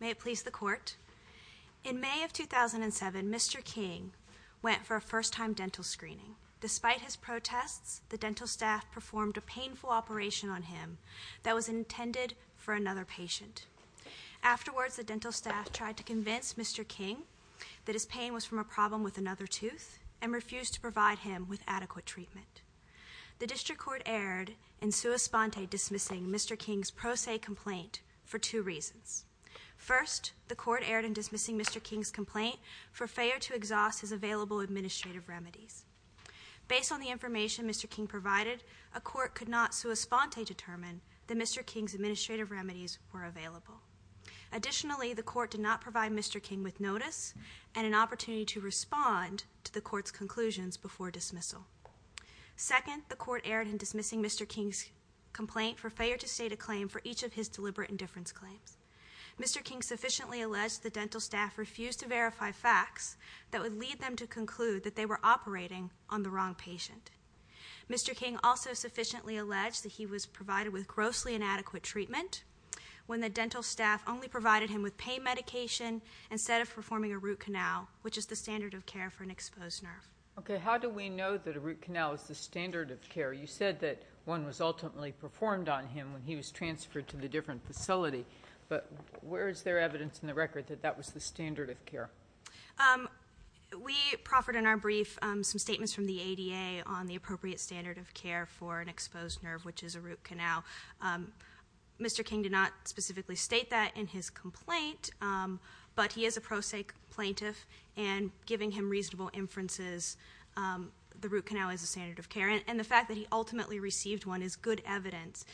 May it please the Court. In May of 2007, Mr. King went for a first-time dental screening. Despite his protests, the dental staff performed a painful operation on him that was intended for another patient. Afterwards, the dental staff tried to convince Mr. King that his problem with another tooth and refused to provide him with adequate treatment. The District Court erred in sua sponte dismissing Mr. King's pro se complaint for two reasons. First, the Court erred in dismissing Mr. King's complaint for failure to exhaust his available administrative remedies. Based on the information Mr. King provided, a court could not sua sponte determine that Mr. King's administrative remedies were available. Additionally, the Court did not provide Mr. King with notice and an opportunity to respond to the Court's conclusions before dismissal. Second, the Court erred in dismissing Mr. King's complaint for failure to state a claim for each of his deliberate indifference claims. Mr. King sufficiently alleged the dental staff refused to verify facts that would lead them to conclude that they were operating on the wrong patient. Mr. King also sufficiently alleged that he was provided with grossly inadequate treatment when the dental staff only provided him with pain medication instead of performing a root canal, which is the standard of care for an exposed nerve. Okay, how do we know that a root canal is the standard of care? You said that one was ultimately performed on him when he was transferred to the different facility, but where is there evidence in the record that that was the standard of care? We proffered in our brief some statements from the ADA on the appropriate standard of care for an exposed nerve, which is a root canal. Mr. King did not specifically state that in his complaint, but he is a pro se plaintiff and giving him reasonable inferences, the root canal is the standard of care. And the fact that he ultimately received one is good evidence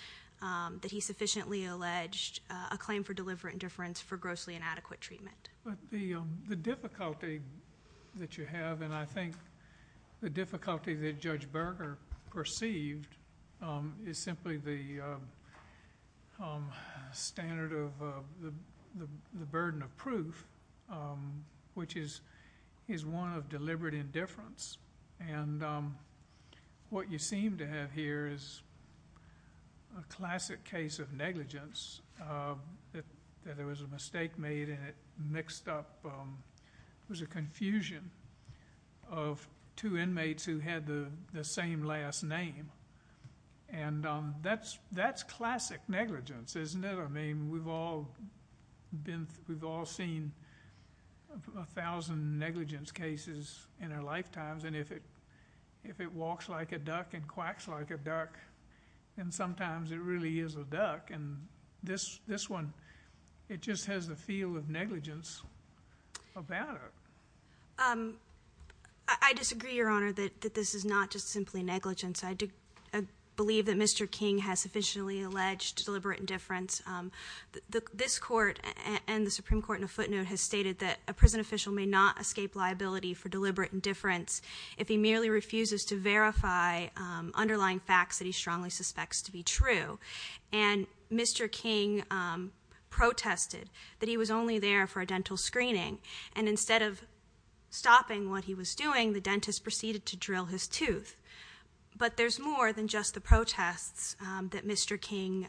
that he sufficiently alleged a claim for deliberate indifference for grossly inadequate treatment. But the difficulty that you have, and I think the difficulty that Judge Berger perceived, is simply the standard of the burden of proof, which is one of deliberate indifference. And what you seem to have here is a classic case of negligence, that there was a mistake made and it mixed up, it was a confusion of two inmates who had the same last name. And that's classic negligence, isn't it? I mean, we've all seen a thousand negligence cases in our lifetimes, and if it walks like a duck and quacks like a duck, then sometimes it really is a duck. And this I disagree, Your Honor, that this is not just simply negligence. I believe that Mr. King has sufficiently alleged deliberate indifference. This court and the Supreme Court in a footnote has stated that a prison official may not escape liability for deliberate indifference if he merely refuses to verify underlying facts that he strongly suspects to be true. And Mr. King protested that he was only there for a dental screening, and instead of stopping what he was doing, the dentist proceeded to drill his tooth. But there's more than just the protests that Mr. King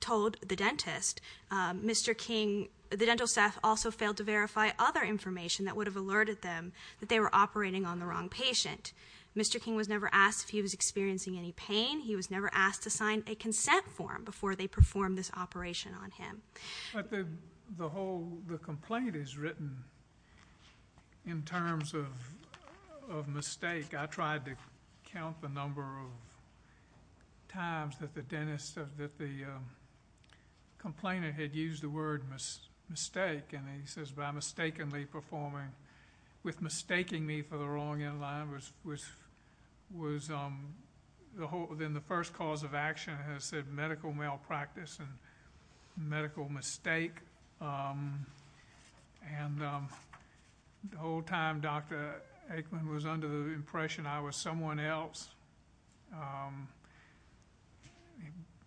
told the dentist. Mr. King, the dental staff also failed to verify other information that would have alerted them that they were operating on the wrong patient. Mr. King was never asked if he was experiencing any pain. He was never asked to sign a consent form before they performed this operation on him. But the whole complaint is written in terms of mistake. I tried to count the number of times that the dentist, that the complainant had used the word mistake, and he says, by mistakenly performing, with mistaking me for the wrong in-line, which was the whole, then the first cause of action has said medical malpractice and medical mistake. And the whole time Dr. Aikman was under the impression I was someone else,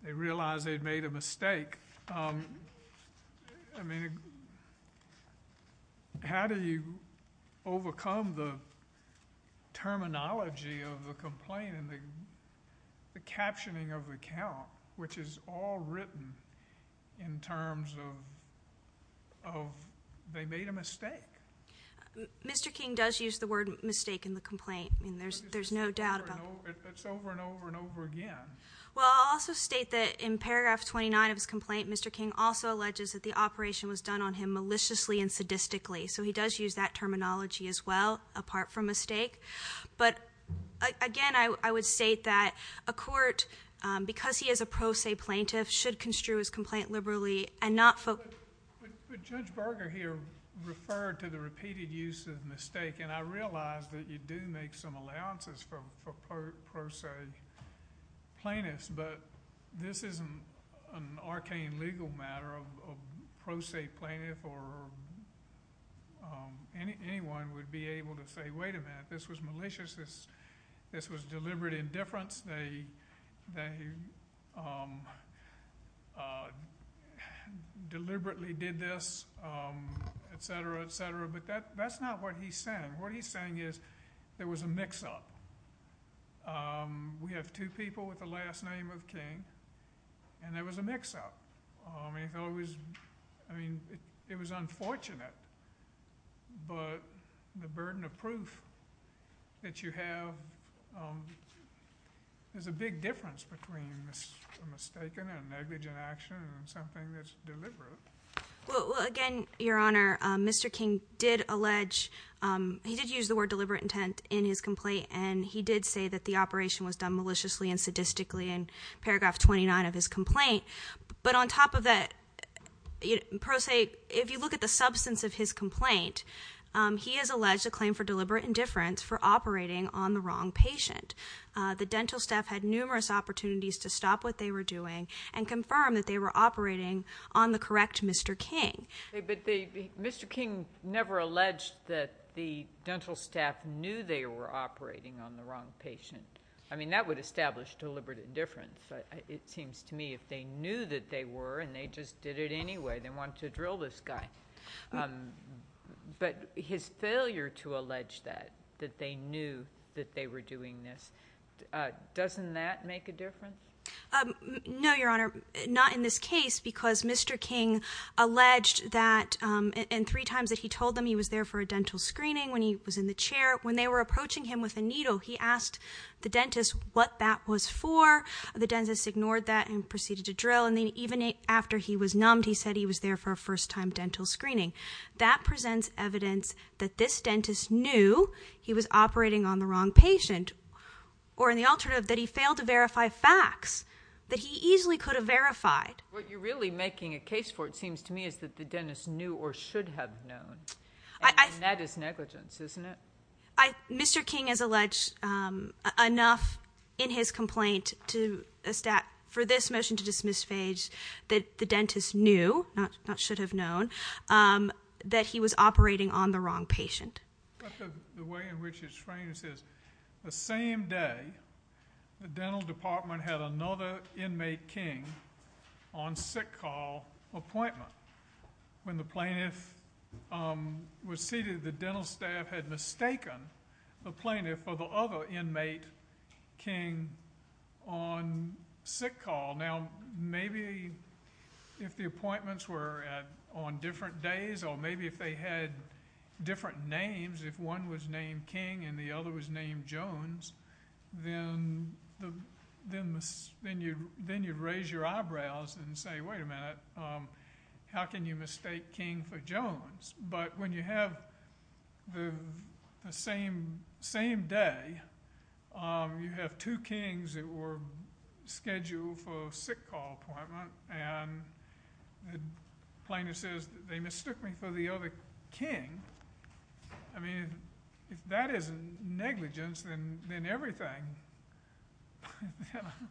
they realized they'd made a mistake. I mean, how do you overcome the terminology of the complaint and the captioning of the account, which is all written in terms of they made a mistake? Mr. King does use the word mistake in the complaint, and there's no doubt about that. It's over and over and over again. Well, I'll also state that in paragraph 29 of his complaint, Mr. King also alleges that the operation was done on him maliciously and sadistically. So he does use that terminology as well, apart from mistake. But again, I would state that a court, because he is a pro se plaintiff, should construe his complaint liberally and not focus. But Judge Berger here referred to the repeated use of mistake, and I realize that you do make some allowances for pro se plaintiffs, but this isn't an arcane legal matter of pro se plaintiff or anyone would be able to say, wait a minute, this was malicious, this was deliberate indifference, they deliberately did this, et cetera, et cetera. But that's not what he's saying. What he's saying is there was a mix-up. We have two people with the last name of King, and there was a mix-up. I mean, it was unfortunate, but the burden of proof that you have is a big difference between a mistake and a negligent action and something that's deliberate. Well, again, Your Honor, Mr. King did use the word deliberate intent in his complaint, and he did say that the operation was done maliciously and sadistically in paragraph 29 of his complaint. But on top of that, pro se, if you look at the substance of his complaint, he has alleged a claim for deliberate indifference for operating on the wrong patient. The dental staff had numerous opportunities to stop what they were doing and confirm that they were Mr. King never alleged that the dental staff knew they were operating on the wrong patient. I mean, that would establish deliberate indifference, but it seems to me if they knew that they were and they just did it anyway, they wanted to drill this guy. But his failure to allege that, that they knew that they were doing this, doesn't that make a difference? No, Your Honor, not in this case, because Mr. King alleged that in three times that he told them he was there for a dental screening when he was in the chair, when they were approaching him with a needle, he asked the dentist what that was for. The dentist ignored that and proceeded to drill. And then even after he was numbed, he said he was there for a first time dental screening. That presents evidence that this dentist knew he was operating on the wrong patient, or in the alternative, that he failed to verify facts that he easily could have verified. What you're really making a case for, it seems to me, is that the dentist knew or should have known. And that is negligence, isn't it? Mr. King has alleged enough in his complaint for this motion to dismiss Phage that the dentist knew, not should have known, that he was operating on the wrong patient. But the way in which it's framed is the same day, the dental department had another inmate King on sick call appointment. When the plaintiff was seated, the dental staff had mistaken the plaintiff for the other inmate King on sick call. Now, maybe if the appointments were on different days or maybe if they had different names, if one was named King and the other was named Jones, then you'd raise your eyebrows and say, wait a minute, how can you mistake King for Jones? But when you have the same day, you have two Kings that were scheduled for sick call appointment, and the plaintiff says they mistook me for the other King, I mean, that is negligence in everything.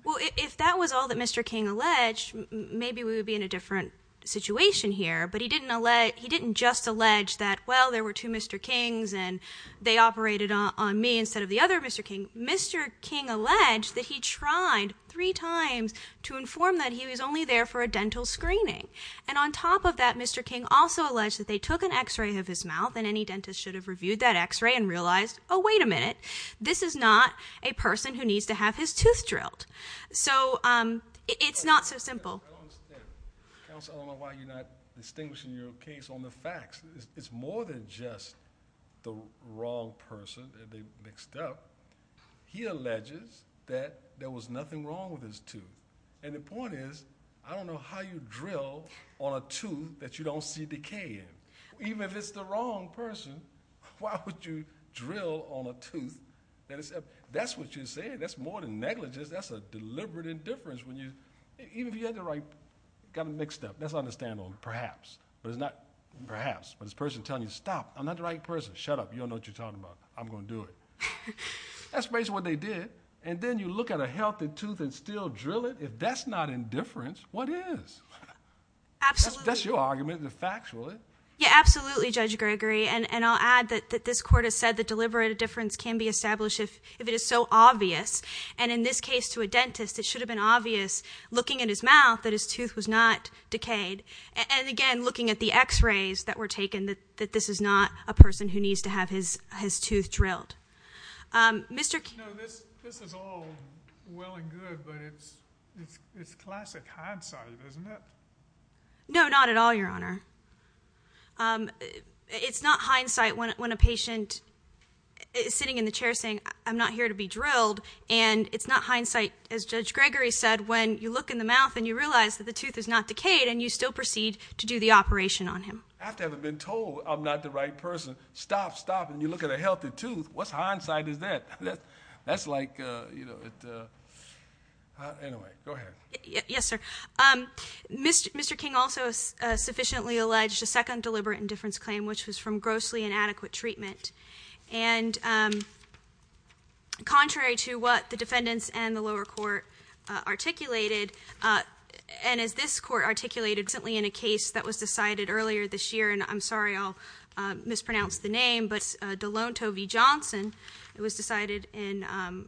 Well, if that was all that Mr. King alleged, maybe we would be in a different situation here. But he didn't just allege that, well, there were two Mr. Kings and they operated on me instead of the other Mr. King. Mr. King alleged that he tried three times to inform that he was only there for a dental screening. And on top of that, Mr. King also alleged that they took an x-ray of his mouth and any dentist should have reviewed that x-ray and realized, oh, wait a minute, this is not a person who needs to have his tooth drilled. So it's not so simple. I don't understand. Counsel, I don't know why you're not distinguishing your case on the facts. It's more than just the wrong person that they mixed up. He alleges that there was nothing wrong with his tooth. And the point is, I don't know how you drill on a tooth that you don't see decay in. Even if it's the wrong person, why would you drill on a tooth that is, that's what you're saying. That's more than negligence. That's a deliberate indifference when you, even if you had the right, got them mixed up. That's understandable, perhaps. But it's not perhaps, but it's a person telling you, stop, I'm not the right person. Shut up, you don't know what you're talking about. I'm going to do it. That's basically what they did. And then you look at a healthy tooth and still drill it? If that's not indifference, what is? Absolutely. That's your argument, the facts, really. Yeah, absolutely, Judge Gregory. And I'll add that this Court has said that deliberate indifference can be established if it is so obvious. And in this case, to a dentist, it was not decayed. And again, looking at the x-rays that were taken, that this is not a person who needs to have his tooth drilled. No, this is all well and good, but it's classic hindsight, isn't it? No, not at all, Your Honor. It's not hindsight when a patient is sitting in the chair saying, I'm not here to be drilled. And it's not hindsight, as Judge Gregory said, when you look in the teeth, the tooth is not decayed and you still proceed to do the operation on him. I haven't been told I'm not the right person. Stop, stop, and you look at a healthy tooth. What hindsight is that? That's like, you know, anyway, go ahead. Yes, sir. Mr. King also sufficiently alleged a second deliberate indifference claim, which was from grossly inadequate treatment. And contrary to what the defendants and the lower court articulated, and as this court articulated recently in a case that was decided earlier this year, and I'm sorry I'll mispronounce the name, but Delonto v. Johnson, it was decided in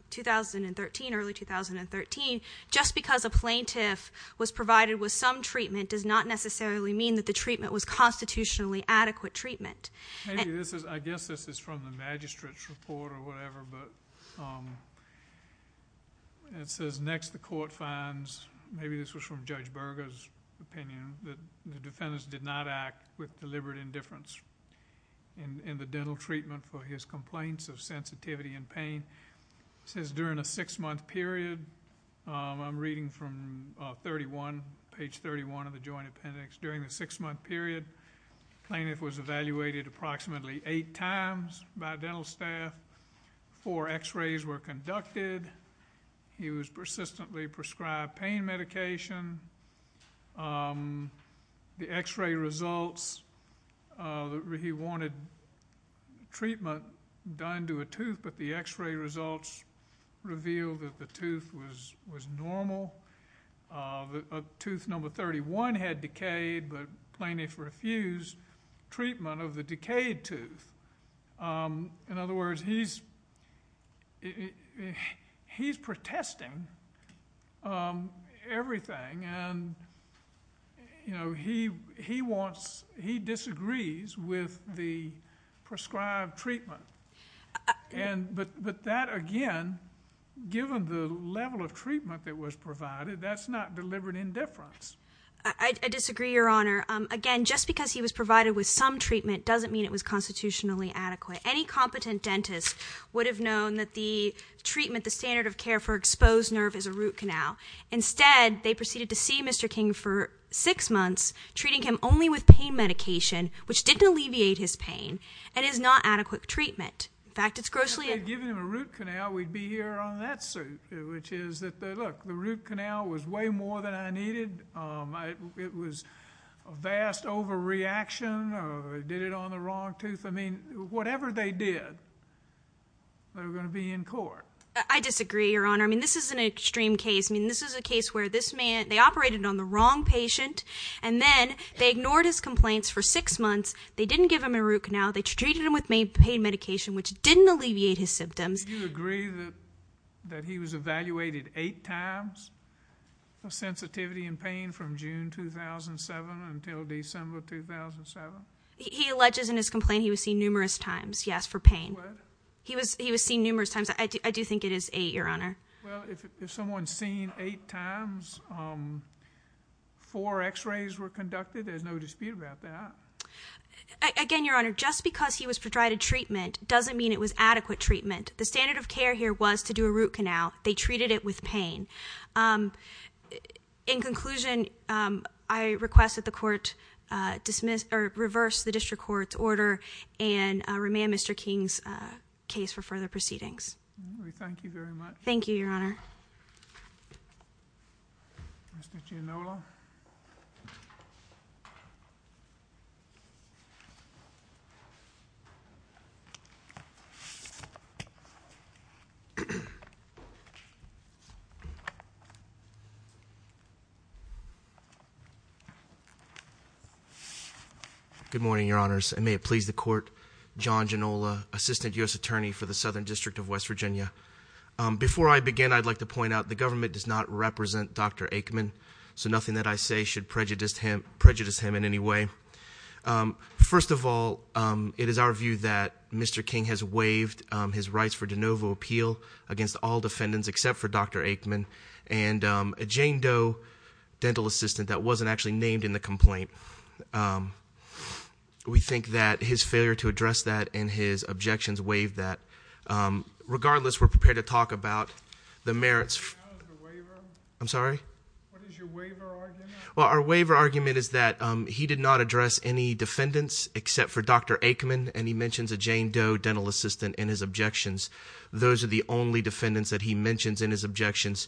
2013, early 2013, just because a plaintiff was provided with some treatment does not necessarily mean that the treatment was constitutionally adequate treatment. I guess this is from the magistrate's report or whatever, but it says next the court finds, maybe this was from Judge Berger's opinion, that the defendants did not act with deliberate indifference in the dental treatment for his complaints of sensitivity and pain. It says during a six-month period, I'm reading from page 31 of the joint appendix, during the six-month period, the plaintiff was evaluated approximately eight times by dental staff. Four x-rays were conducted. He was persistently prescribed pain medication. The x-ray results, he wanted treatment done to a tooth, but the x-ray results revealed that the tooth was a plaintiff refused treatment of the decayed tooth. In other words, he's protesting everything and he disagrees with the prescribed treatment, but that again, given the level of treatment that was provided, that's not deliberate indifference. I disagree, Your Honor. Again, just because he was provided with some treatment doesn't mean it was constitutionally adequate. Any competent dentist would have known that the treatment, the standard of care for exposed nerve is a root canal. Instead, they proceeded to see Mr. King for six months, treating him only with pain medication, which didn't alleviate his pain and is not adequate treatment. In fact, it's grossly If they had given him a root canal, we'd be here on that suit, which is that, look, the root canal was way more than I needed. It was a vast overreaction. They did it on the wrong tooth. I mean, whatever they did, they were going to be in court. I disagree, Your Honor. I mean, this is an extreme case. I mean, this is a case where this man, they operated on the wrong patient and then they ignored his complaints for six months. They didn't give him a root canal. They treated him with pain medication, which didn't alleviate his symptoms. Do you agree that he was evaluated eight times for sensitivity and pain from June 2007 until December 2007? He alleges in his complaint he was seen numerous times, yes, for pain. What? He was seen numerous times. I do think it is eight, Your Honor. Well, if someone's seen eight times, four x-rays were conducted, there's no dispute about that. Again, Your Honor, just because he was provided treatment doesn't mean it was adequate treatment. The standard of care here was to do a root canal. They treated it with pain. In conclusion, I request that the Court reverse the District Court's order and remand Mr. King's case for further proceedings. We thank you very much. Thank you, Your Honor. Mr. Giannola. Good morning, Your Honors, and may it please the Court, John Giannola, Assistant U.S. Before I begin, I'd like to point out the government does not represent Dr. Aikman, so nothing that I say should prejudice him in any way. First of all, it is our view that Mr. King has waived his rights for de novo appeal against all defendants except for Dr. Aikman and a Jane Doe dental assistant that wasn't actually named in the complaint. We think that his failure to address that and his objections waived that. Regardless, we're prepared to talk about the merits- What is your waiver argument? Well, our waiver argument is that he did not address any defendants except for Dr. Aikman, and he mentions a Jane Doe dental assistant in his objections. Those are the only defendants that he mentions in his objections.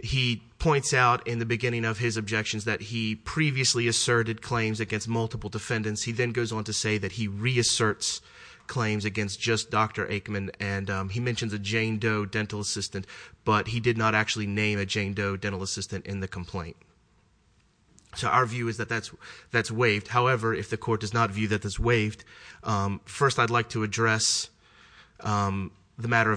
He points out in the beginning of his objections that he previously asserted claims against multiple defendants. He then goes on to say that he reasserts claims against just Dr. Aikman, and he mentions a Jane Doe dental assistant, but he did not actually name a Jane Doe dental assistant in the complaint. So our view is that that's waived. However, if the Court does not view that as waived, first I'd like to address the matter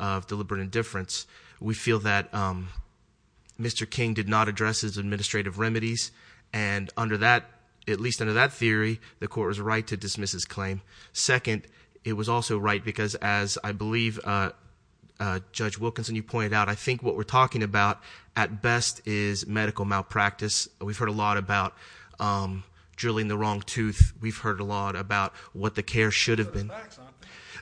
of deliberate indifference. We feel that Mr. King did not address his administrative remedies, and under that, at least under that theory, the Court was right to dismiss his claim. Second, it was also right because, as I believe Judge Wilkinson, you pointed out, I think what we're talking about at best is medical malpractice. We've heard a lot about drilling the wrong tooth. We've heard a lot about what the care should have been.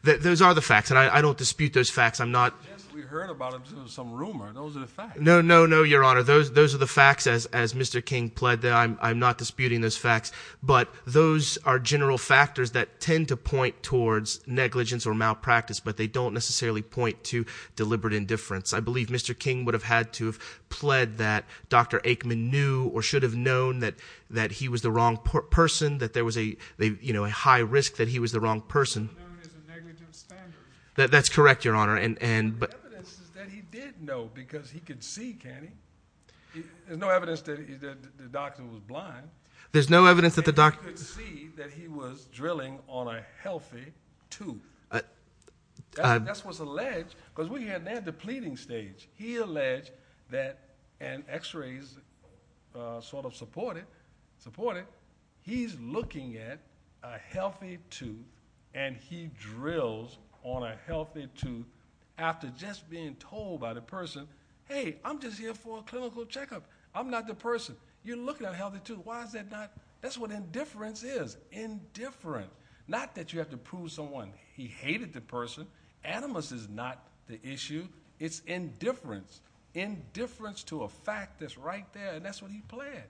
Those are the facts, and I don't dispute those facts. I'm not — We heard about it. It was some rumor. Those are the facts. No, no, no, Your Honor. Those are the facts, as Mr. King pled that. I'm not disputing those facts. But those are general factors that tend to point towards negligence or malpractice, but they don't necessarily point to deliberate indifference. I believe Mr. King would have had to have pled that Dr. Aikman knew or should have known that he was the wrong person, that there was a high risk that he was the wrong person. He should have known it as a negative standard. That's correct, Your Honor. The evidence is that he did know because he could see, can't he? There's no evidence that the doctor was blind. There's no evidence that the doctor — And he could see that he was drilling on a healthy tooth. That's what's alleged because we had that depleting stage. He alleged that — and x-rays sort of support it. He's looking at a healthy tooth, and he drills on a healthy tooth after just being told by the person, hey, I'm just here for a clinical checkup. I'm not the person. You're looking at a healthy tooth. Why is that not — that's what indifference is, indifferent. Not that you have to prove someone he hated the person. Animus is not the issue. It's indifference, indifference to a fact that's right there, and that's what he pled.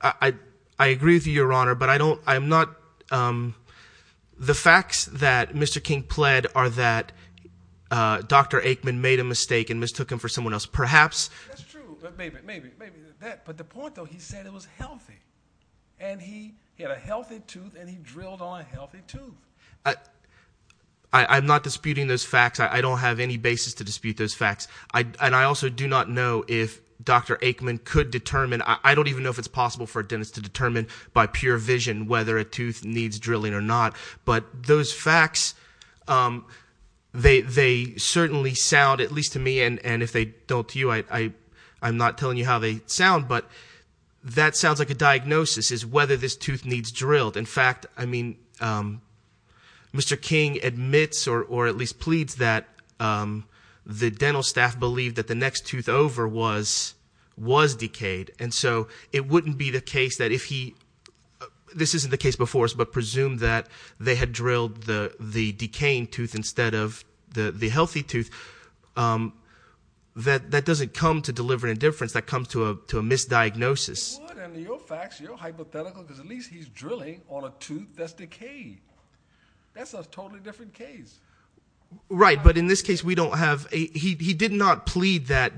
I agree with you, Your Honor, but I don't — I'm not — the facts that Mr. King pled are that Dr. Aikman made a mistake and mistook him for someone else. Perhaps — That's true. Maybe, maybe, maybe. But the point, though, he said it was healthy, and he had a healthy tooth, and he drilled on a healthy tooth. I'm not disputing those facts. I don't have any basis to dispute those facts, and I also do not know if Dr. Aikman could determine — I don't even know if it's possible for a dentist to determine by pure vision whether a tooth needs drilling or not. But those facts, they certainly sound, at least to me, and if they don't to you, I'm not telling you how they sound, but that sounds like a diagnosis is whether this tooth needs drilled. In fact, I mean, Mr. King admits or at least pleads that the dental staff believed that the next tooth over was decayed, and so it wouldn't be the case that if he — this isn't the case before us, but presumed that they had drilled the decaying tooth instead of the healthy tooth, that that doesn't come to deliver indifference. That comes to a misdiagnosis. It would, and your facts, your hypothetical, because at least he's drilling on a tooth that's decayed. That's a totally different case. Right, but in this case, we don't have — he did not plead that.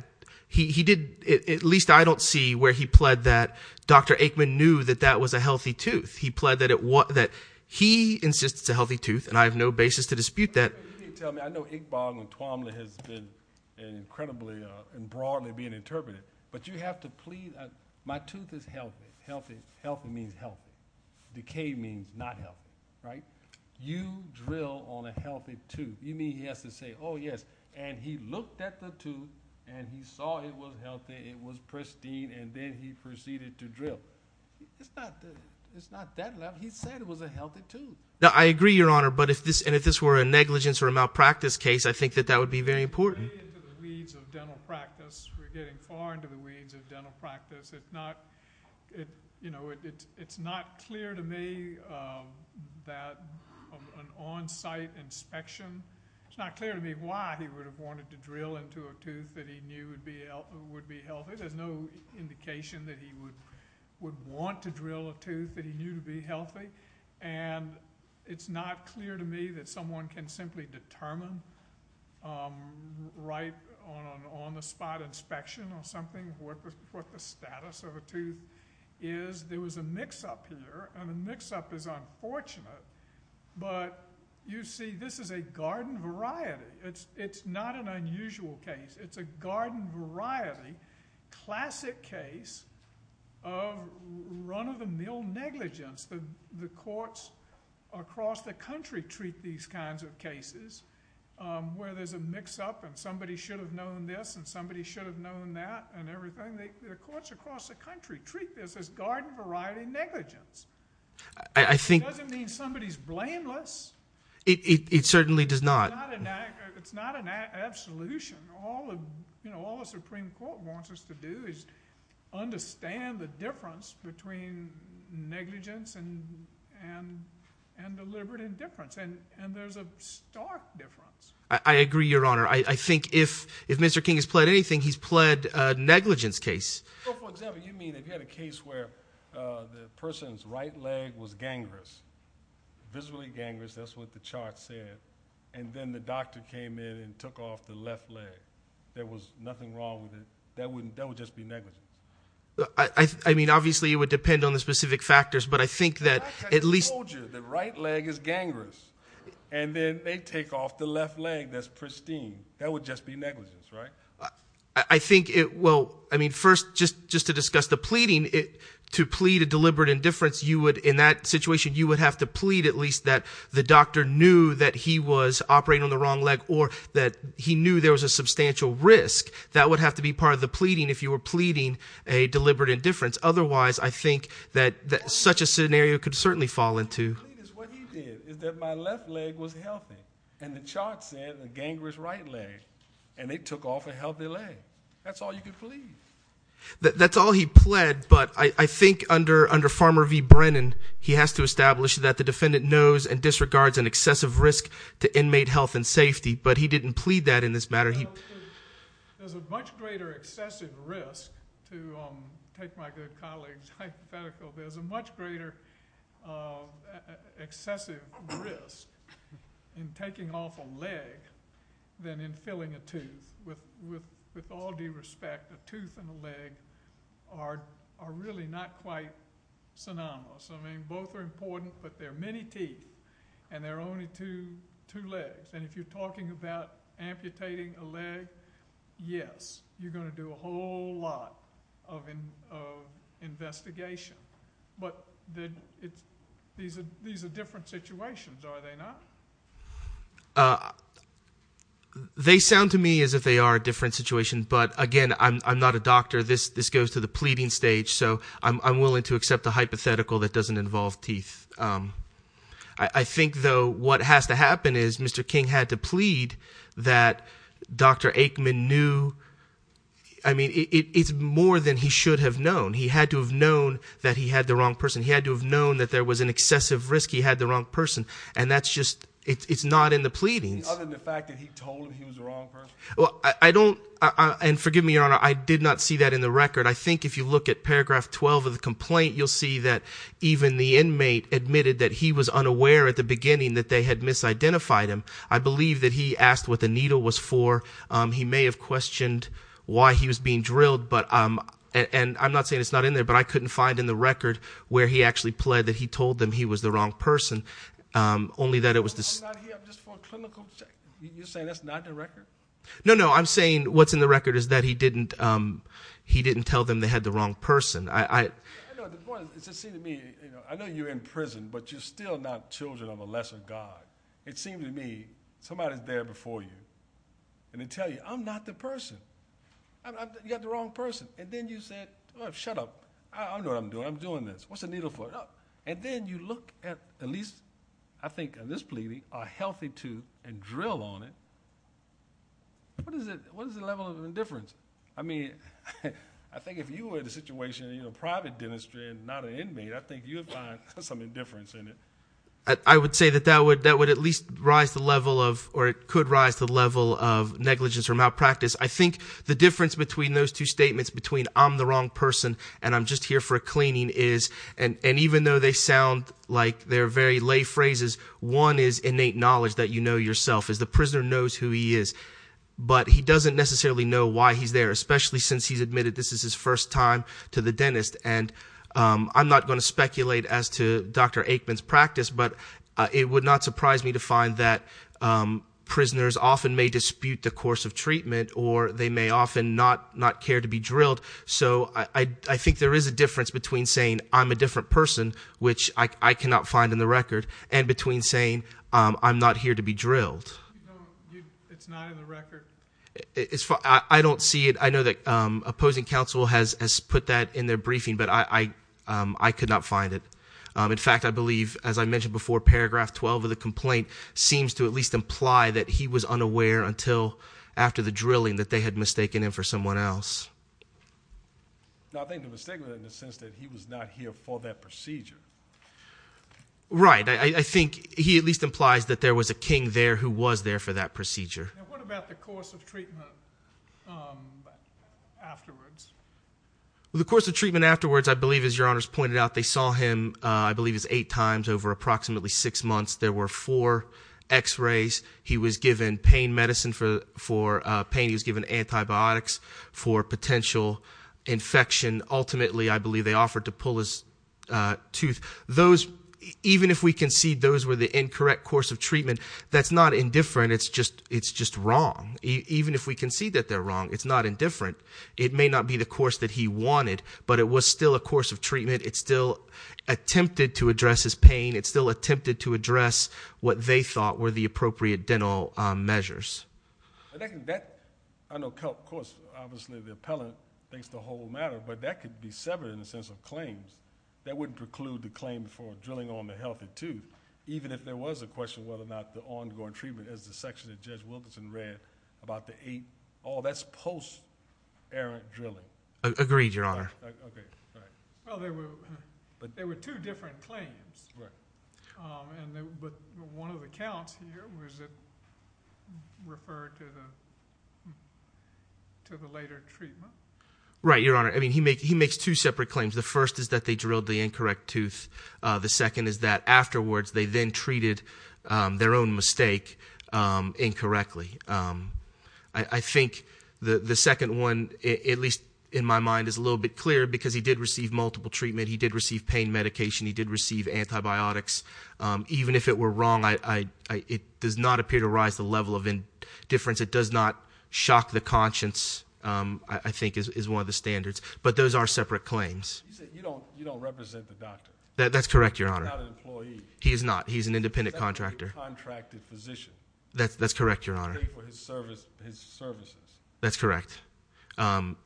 He did — at least I don't see where he pled that Dr. Aikman knew that that was a healthy tooth. He pled that he insists it's a healthy tooth, and I have no basis to dispute that. He didn't tell me. I know Iqbal and Twamle has been incredibly and broadly being interpreted, but you have to plead. My tooth is healthy. Healthy means healthy. Decayed means not healthy, right? You drill on a healthy tooth. You mean he has to say, oh, yes, and he looked at the tooth, and he saw it was healthy. It was pristine, and then he proceeded to drill. It's not that level. He said it was a healthy tooth. I agree, Your Honor, and if this were a negligence or a malpractice case, I think that that would be very important. We're getting far into the weeds of dental practice. We're getting far into the weeds of dental practice. It's not clear to me that an on-site inspection — it's not clear to me why he would have wanted to drill into a tooth that he knew would be healthy. There's no indication that he would want to drill a tooth that he knew would be healthy. It's not clear to me that someone can simply determine right on an on-the-spot inspection or something what the status of a tooth is. There was a mix-up here, and the mix-up is unfortunate, but you see this is a garden variety. It's not an unusual case. It's a garden variety, classic case of run-of-the-mill negligence. The courts across the country treat these kinds of cases where there's a mix-up and somebody should have known this and somebody should have known that and everything. The courts across the country treat this as garden variety negligence. It doesn't mean somebody's blameless. It certainly does not. It's not an absolution. All the Supreme Court wants us to do is understand the difference between negligence and deliberate indifference, and there's a stark difference. I agree, Your Honor. I think if Mr. King has pled anything, he's pled a negligence case. For example, you mean if you had a case where the person's right leg was gangrenous, visibly gangrenous. That's what the chart said, and then the doctor came in and took off the left leg. There was nothing wrong with it. That would just be negligence. I mean obviously it would depend on the specific factors, but I think that at least- The doctor told you the right leg is gangrenous, and then they take off the left leg that's pristine. That would just be negligence, right? I think it will. I mean first, just to discuss the pleading, to plead a deliberate indifference, you would in that situation, you would have to plead at least that the doctor knew that he was operating on the wrong leg or that he knew there was a substantial risk. That would have to be part of the pleading if you were pleading a deliberate indifference. Otherwise, I think that such a scenario could certainly fall into. What he did is that my left leg was healthy, and the chart said the gangrenous right leg, and they took off a healthy leg. That's all you could plead. That's all he pled, but I think under Farmer v. Brennan, he has to establish that the defendant knows and disregards an excessive risk to inmate health and safety, but he didn't plead that in this matter. There's a much greater excessive risk to take my good colleague's hypothetical. There's a much greater excessive risk in taking off a leg than in filling a tooth. With all due respect, a tooth and a leg are really not quite synonymous. I mean both are important, but there are many teeth, and there are only two legs. And if you're talking about amputating a leg, yes, you're going to do a whole lot of investigation. But these are different situations, are they not? They sound to me as if they are a different situation, but again, I'm not a doctor. This goes to the pleading stage, so I'm willing to accept a hypothetical that doesn't involve teeth. I think, though, what has to happen is Mr. King had to plead that Dr. Aikman knew. I mean, it's more than he should have known. He had to have known that he had the wrong person. He had to have known that there was an excessive risk he had the wrong person, and that's just, it's not in the pleadings. Other than the fact that he told him he was the wrong person? Well, I don't, and forgive me, Your Honor, I did not see that in the record. I think if you look at paragraph 12 of the complaint, you'll see that even the inmate admitted that he was unaware at the beginning that they had misidentified him. I believe that he asked what the needle was for. He may have questioned why he was being drilled, and I'm not saying it's not in there, but I couldn't find in the record where he actually pled that he told them he was the wrong person, only that it was- I'm not here just for a clinical check. You're saying that's not in the record? No, no, I'm saying what's in the record is that he didn't tell them they had the wrong person. I know you're in prison, but you're still not children of a lesser God. It seems to me somebody's there before you, and they tell you, I'm not the person. You got the wrong person, and then you said, oh, shut up. I know what I'm doing. I'm doing this. What's the needle for? Shut up. And then you look at at least, I think in this pleading, a healthy tooth and drill on it. What is the level of indifference? I mean, I think if you were in a situation in private dentistry and not an inmate, I think you would find some indifference in it. I would say that that would at least rise the level of, or it could rise the level of negligence or malpractice. I think the difference between those two statements between I'm the wrong person and I'm just here for a cleaning is, and even though they sound like they're very lay phrases, one is innate knowledge that you know yourself. The prisoner knows who he is, but he doesn't necessarily know why he's there, especially since he's admitted this is his first time to the dentist. And I'm not going to speculate as to Dr. Aikman's practice, but it would not surprise me to find that prisoners often may dispute the course of treatment, or they may often not care to be drilled. So I think there is a difference between saying I'm a different person, which I cannot find in the record, and between saying I'm not here to be drilled. No, it's not in the record. I don't see it. I know that opposing counsel has put that in their briefing, but I could not find it. In fact, I believe, as I mentioned before, paragraph 12 of the complaint seems to at least imply that he was unaware until after the drilling that they had mistaken him for someone else. No, I think the mistake was in the sense that he was not here for that procedure. Right. I think he at least implies that there was a king there who was there for that procedure. And what about the course of treatment afterwards? The course of treatment afterwards, I believe, as Your Honors pointed out, they saw him, I believe, eight times over approximately six months. There were four x-rays. He was given pain medicine for pain. He was given antibiotics for potential infection. Ultimately, I believe they offered to pull his tooth. Even if we concede those were the incorrect course of treatment, that's not indifferent. It's just wrong. Even if we concede that they're wrong, it's not indifferent. It may not be the course that he wanted, but it was still a course of treatment. It still attempted to address his pain. It still attempted to address what they thought were the appropriate dental measures. I know, of course, obviously the appellant thinks the whole matter, but that could be severed in the sense of claims. That wouldn't preclude the claim for drilling on the healthy tooth, even if there was a question whether or not the ongoing treatment, as the section that Judge Wilkinson read about the eight, oh, that's posterior drilling. Agreed, Your Honor. Okay, all right. Well, there were two different claims. Right. But one of the counts here was it referred to the later treatment. Right, Your Honor. I mean, he makes two separate claims. The first is that they drilled the incorrect tooth. The second is that afterwards they then treated their own mistake incorrectly. I think the second one, at least in my mind, is a little bit clearer because he did receive multiple treatment. He did receive pain medication. He did receive antibiotics. Even if it were wrong, it does not appear to rise the level of indifference. It does not shock the conscience, I think, is one of the standards. But those are separate claims. He said you don't represent the doctor. That's correct, Your Honor. He's not an employee. He is not. He's an independent contractor. He's a contracted physician. That's correct, Your Honor. He paid for his services. That's correct. And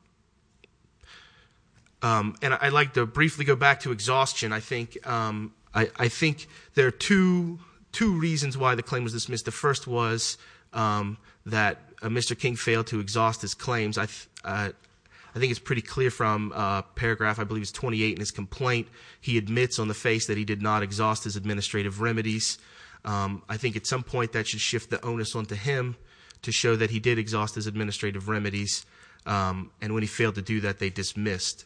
I'd like to briefly go back to exhaustion. I think there are two reasons why the claim was dismissed. The first was that Mr. King failed to exhaust his claims. I think it's pretty clear from paragraph, I believe it's 28 in his complaint. He admits on the face that he did not exhaust his administrative remedies. I think at some point that should shift the onus onto him to show that he did exhaust his administrative remedies. And when he failed to do that, they dismissed.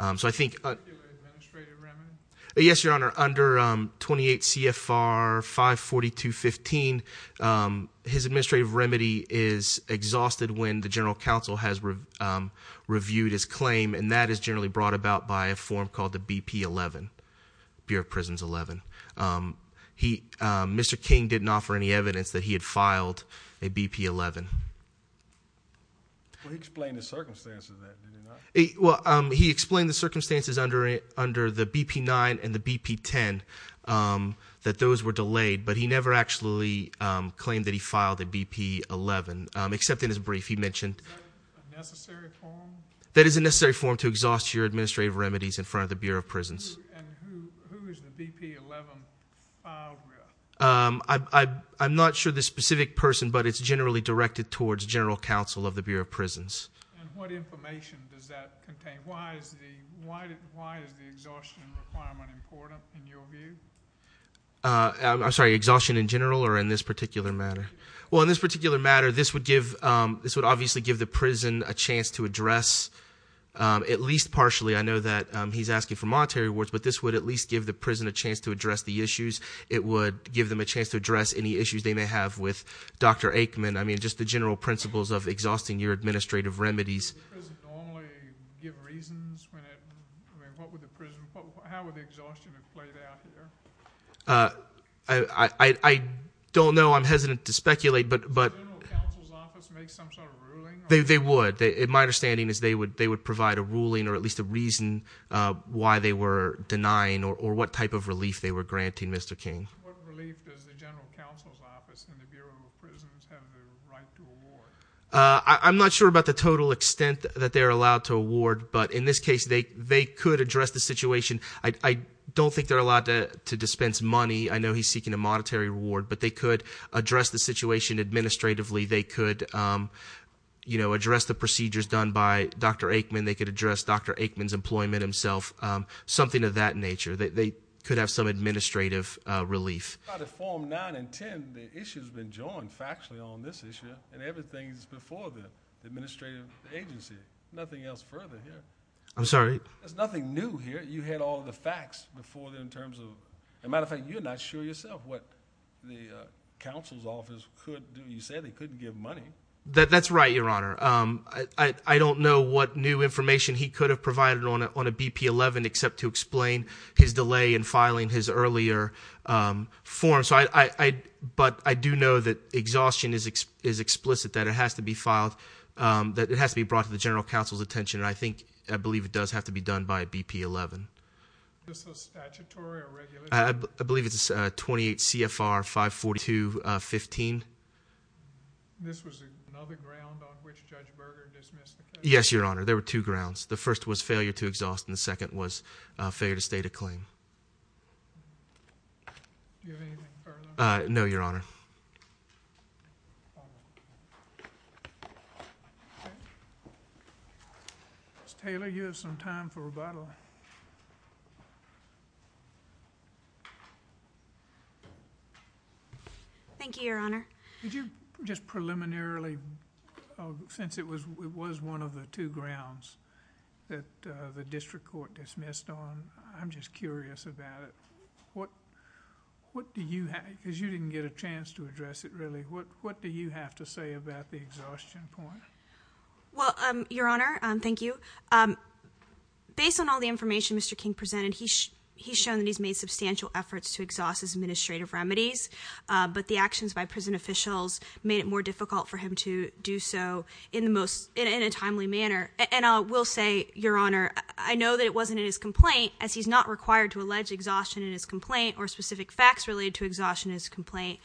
So I think- Administrative remedy? Yes, Your Honor. Under 28 CFR 542.15, his administrative remedy is exhausted when the general counsel has reviewed his claim, and that is generally brought about by a form called the BP-11, Bureau of Prisons 11. Mr. King didn't offer any evidence that he had filed a BP-11. Well, he explained the circumstances of that, did he not? Well, he explained the circumstances under the BP-9 and the BP-10, that those were delayed. But he never actually claimed that he filed a BP-11, except in his brief. He mentioned- Is that a necessary form? That is a necessary form to exhaust your administrative remedies in front of the Bureau of Prisons. And who is the BP-11 file group? I'm not sure the specific person, but it's generally directed towards general counsel of the Bureau of Prisons. And what information does that contain? Why is the exhaustion requirement important, in your view? I'm sorry, exhaustion in general or in this particular matter? Well, in this particular matter, this would obviously give the prison a chance to address, at least partially. I know that he's asking for monetary rewards, but this would at least give the prison a chance to address the issues. It would give them a chance to address any issues they may have with Dr. Aikman. I mean, just the general principles of exhausting your administrative remedies. Does the prison normally give reasons when it- I mean, how would the exhaustion have played out here? I don't know. I'm hesitant to speculate, but- Does the general counsel's office make some sort of ruling? They would. My understanding is they would provide a ruling or at least a reason why they were denying or what type of relief they were granting, Mr. King. What relief does the general counsel's office and the Bureau of Prisons have the right to award? I'm not sure about the total extent that they're allowed to award, but in this case, they could address the situation. I don't think they're allowed to dispense money. I know he's seeking a monetary reward, but they could address the situation administratively. They could address the procedures done by Dr. Aikman. They could address Dr. Aikman's employment himself, something of that nature. They could have some administrative relief. In Form 9 and 10, the issue has been joined factually on this issue, and everything is before the administrative agency. Nothing else further here. I'm sorry? There's nothing new here. You had all the facts before in terms of – as a matter of fact, you're not sure yourself what the counsel's office could do. You said they couldn't give money. That's right, Your Honor. I don't know what new information he could have provided on a BP-11 except to explain his delay in filing his earlier form. But I do know that exhaustion is explicit, that it has to be filed, that it has to be brought to the general counsel's attention. I think – I believe it does have to be done by a BP-11. Is this a statutory or regulatory? I believe it's 28 CFR 542.15. This was another ground on which Judge Berger dismissed the case? Yes, Your Honor. There were two grounds. The first was failure to exhaust, and the second was failure to state a claim. Do you have anything further? No, Your Honor. Ms. Taylor, you have some time for rebuttal. Thank you, Your Honor. Thank you, Your Honor. Did you just preliminarily – since it was one of the two grounds that the district court dismissed on, I'm just curious about it. What do you – because you didn't get a chance to address it, really. What do you have to say about the exhaustion point? Well, Your Honor, thank you. Based on all the information Mr. King presented, he's shown that he's made substantial efforts to exhaust his administrative remedies, but the actions by prison officials made it more difficult for him to do so in the most – in a timely manner. And I will say, Your Honor, I know that it wasn't in his complaint, as he's not required to allege exhaustion in his complaint or specific facts related to exhaustion in his complaint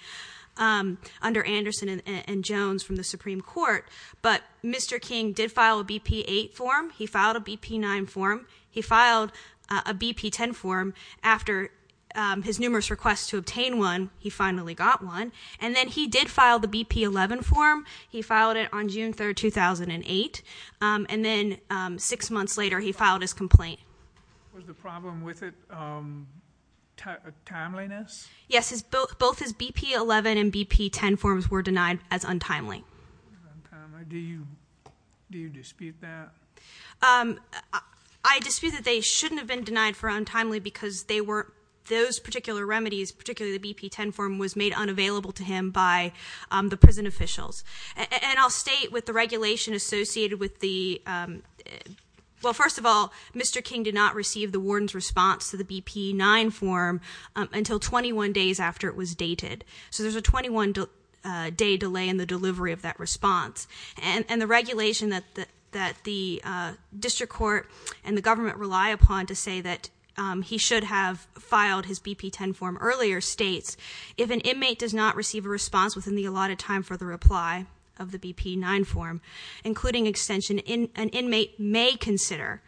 under Anderson and Jones from the Supreme Court, but Mr. King did file a BP-8 form. He filed a BP-9 form. He filed a BP-10 form after his numerous requests to obtain one. He finally got one. And then he did file the BP-11 form. He filed it on June 3, 2008. And then six months later, he filed his complaint. Was the problem with it timeliness? Yes. Both his BP-11 and BP-10 forms were denied as untimely. Do you dispute that? I dispute that they shouldn't have been denied for untimely because they were – those particular remedies, particularly the BP-10 form, was made unavailable to him by the prison officials. And I'll state with the regulation associated with the – well, first of all, Mr. King did not receive the warden's response to the BP-9 form until 21 days after it was dated. So there's a 21-day delay in the delivery of that response. And the regulation that the district court and the government rely upon to say that he should have filed his BP-10 form earlier states, if an inmate does not receive a response within the allotted time for the reply of the BP-9 form, including extension, that an inmate may consider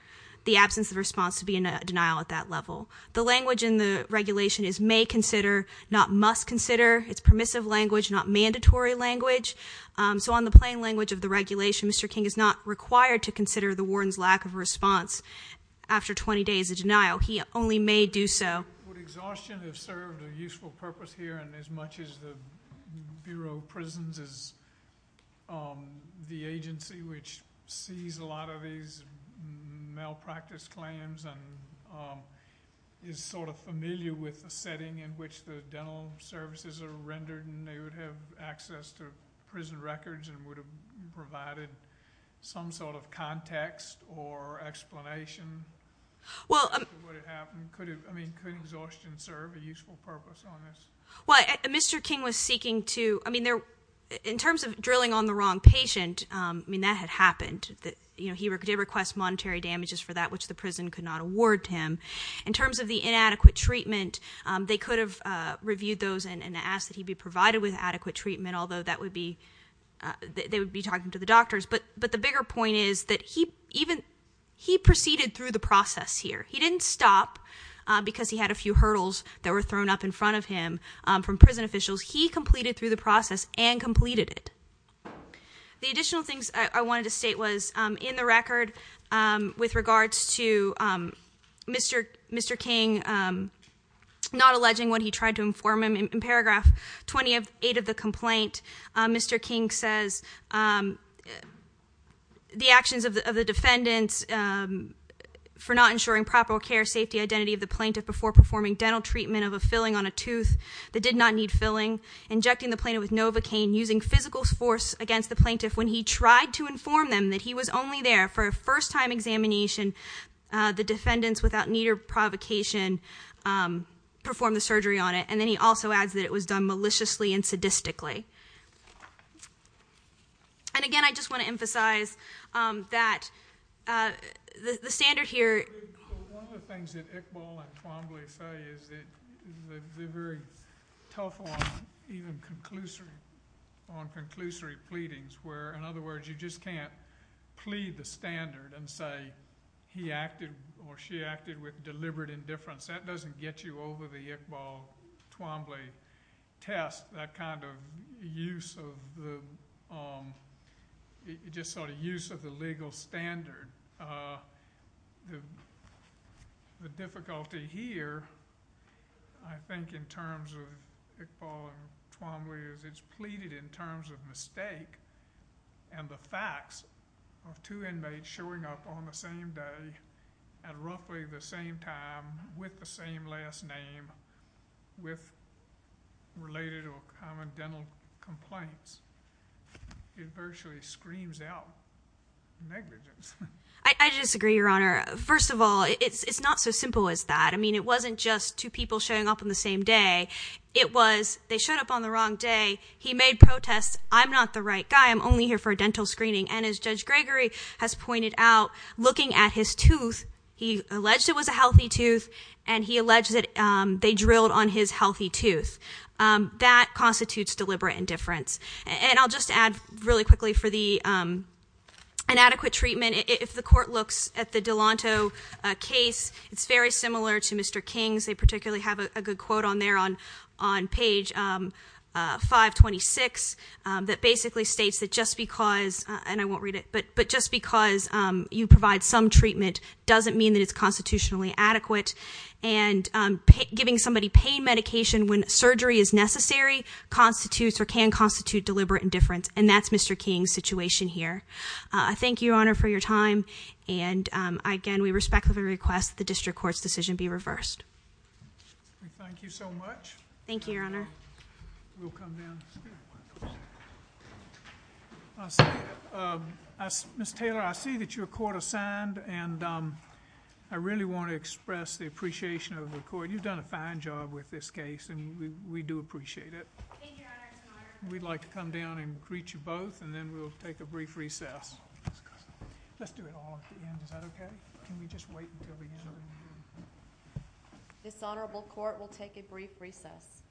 the absence of response to be a denial at that level. The language in the regulation is may consider, not must consider. It's permissive language, not mandatory language. So on the plain language of the regulation, Mr. King is not required to consider the warden's lack of response after 20 days of denial. He only may do so. Would exhaustion have served a useful purpose here? And as much as the Bureau of Prisons is the agency which sees a lot of these malpractice claims and is sort of familiar with the setting in which the dental services are rendered and they would have access to prison records and would have provided some sort of context or explanation for what had happened, I mean, could exhaustion serve a useful purpose on this? Well, Mr. King was seeking to, I mean, in terms of drilling on the wrong patient, I mean, that had happened. You know, he did request monetary damages for that, which the prison could not award him. In terms of the inadequate treatment, they could have reviewed those and asked that he be provided with adequate treatment, although that would be, they would be talking to the doctors. But the bigger point is that he even, he proceeded through the process here. He didn't stop because he had a few hurdles that were thrown up in front of him from prison officials. He completed through the process and completed it. The additional things I wanted to state was in the record with regards to Mr. King not alleging what he tried to inform him. In paragraph 28 of the complaint, Mr. King says, the actions of the defendants for not ensuring proper care, safety, identity of the plaintiff before performing dental treatment of a filling on a tooth that did not need filling. Injecting the plaintiff with Novocaine, using physical force against the plaintiff when he tried to inform them that he was only there for a first time examination. The defendants, without need or provocation, performed the surgery on it. And then he also adds that it was done maliciously and sadistically. And again, I just want to emphasize that the standard here. One of the things that Iqbal and Twombly say is that they're very tough on even conclusory, on conclusory pleadings, where, in other words, you just can't plead the standard and say he acted or she acted with deliberate indifference. That doesn't get you over the Iqbal-Twombly test, that kind of use of the legal standard. The difficulty here, I think, in terms of Iqbal and Twombly is it's pleaded in terms of mistake and the facts of two inmates showing up on the same day at roughly the same time with the same last name with related or common dental complaints. It virtually screams out negligence. I disagree, Your Honor. First of all, it's not so simple as that. I mean, it wasn't just two people showing up on the same day. It was they showed up on the wrong day. He made protests. I'm not the right guy. I'm only here for a dental screening. And as Judge Gregory has pointed out, looking at his tooth, he alleged it was a healthy tooth, and he alleged that they drilled on his healthy tooth. That constitutes deliberate indifference. And I'll just add really quickly for the inadequate treatment, if the court looks at the Delanto case, it's very similar to Mr. King's. They particularly have a good quote on there on page 526 that basically states that just because, and I won't read it, but just because you provide some treatment doesn't mean that it's constitutionally adequate. And giving somebody pain medication when surgery is necessary constitutes or can constitute deliberate indifference. And that's Mr. King's situation here. Thank you, Your Honor, for your time. And, again, we respectfully request that the district court's decision be reversed. Thank you so much. Thank you, Your Honor. We'll come down. Ms. Taylor, I see that you're court assigned, and I really want to express the appreciation of the court. You've done a fine job with this case, and we do appreciate it. Thank you, Your Honor. We'd like to come down and greet you both, and then we'll take a brief recess. Let's do it all at the end. Is that okay? Can we just wait until the end? This honorable court will take a brief recess.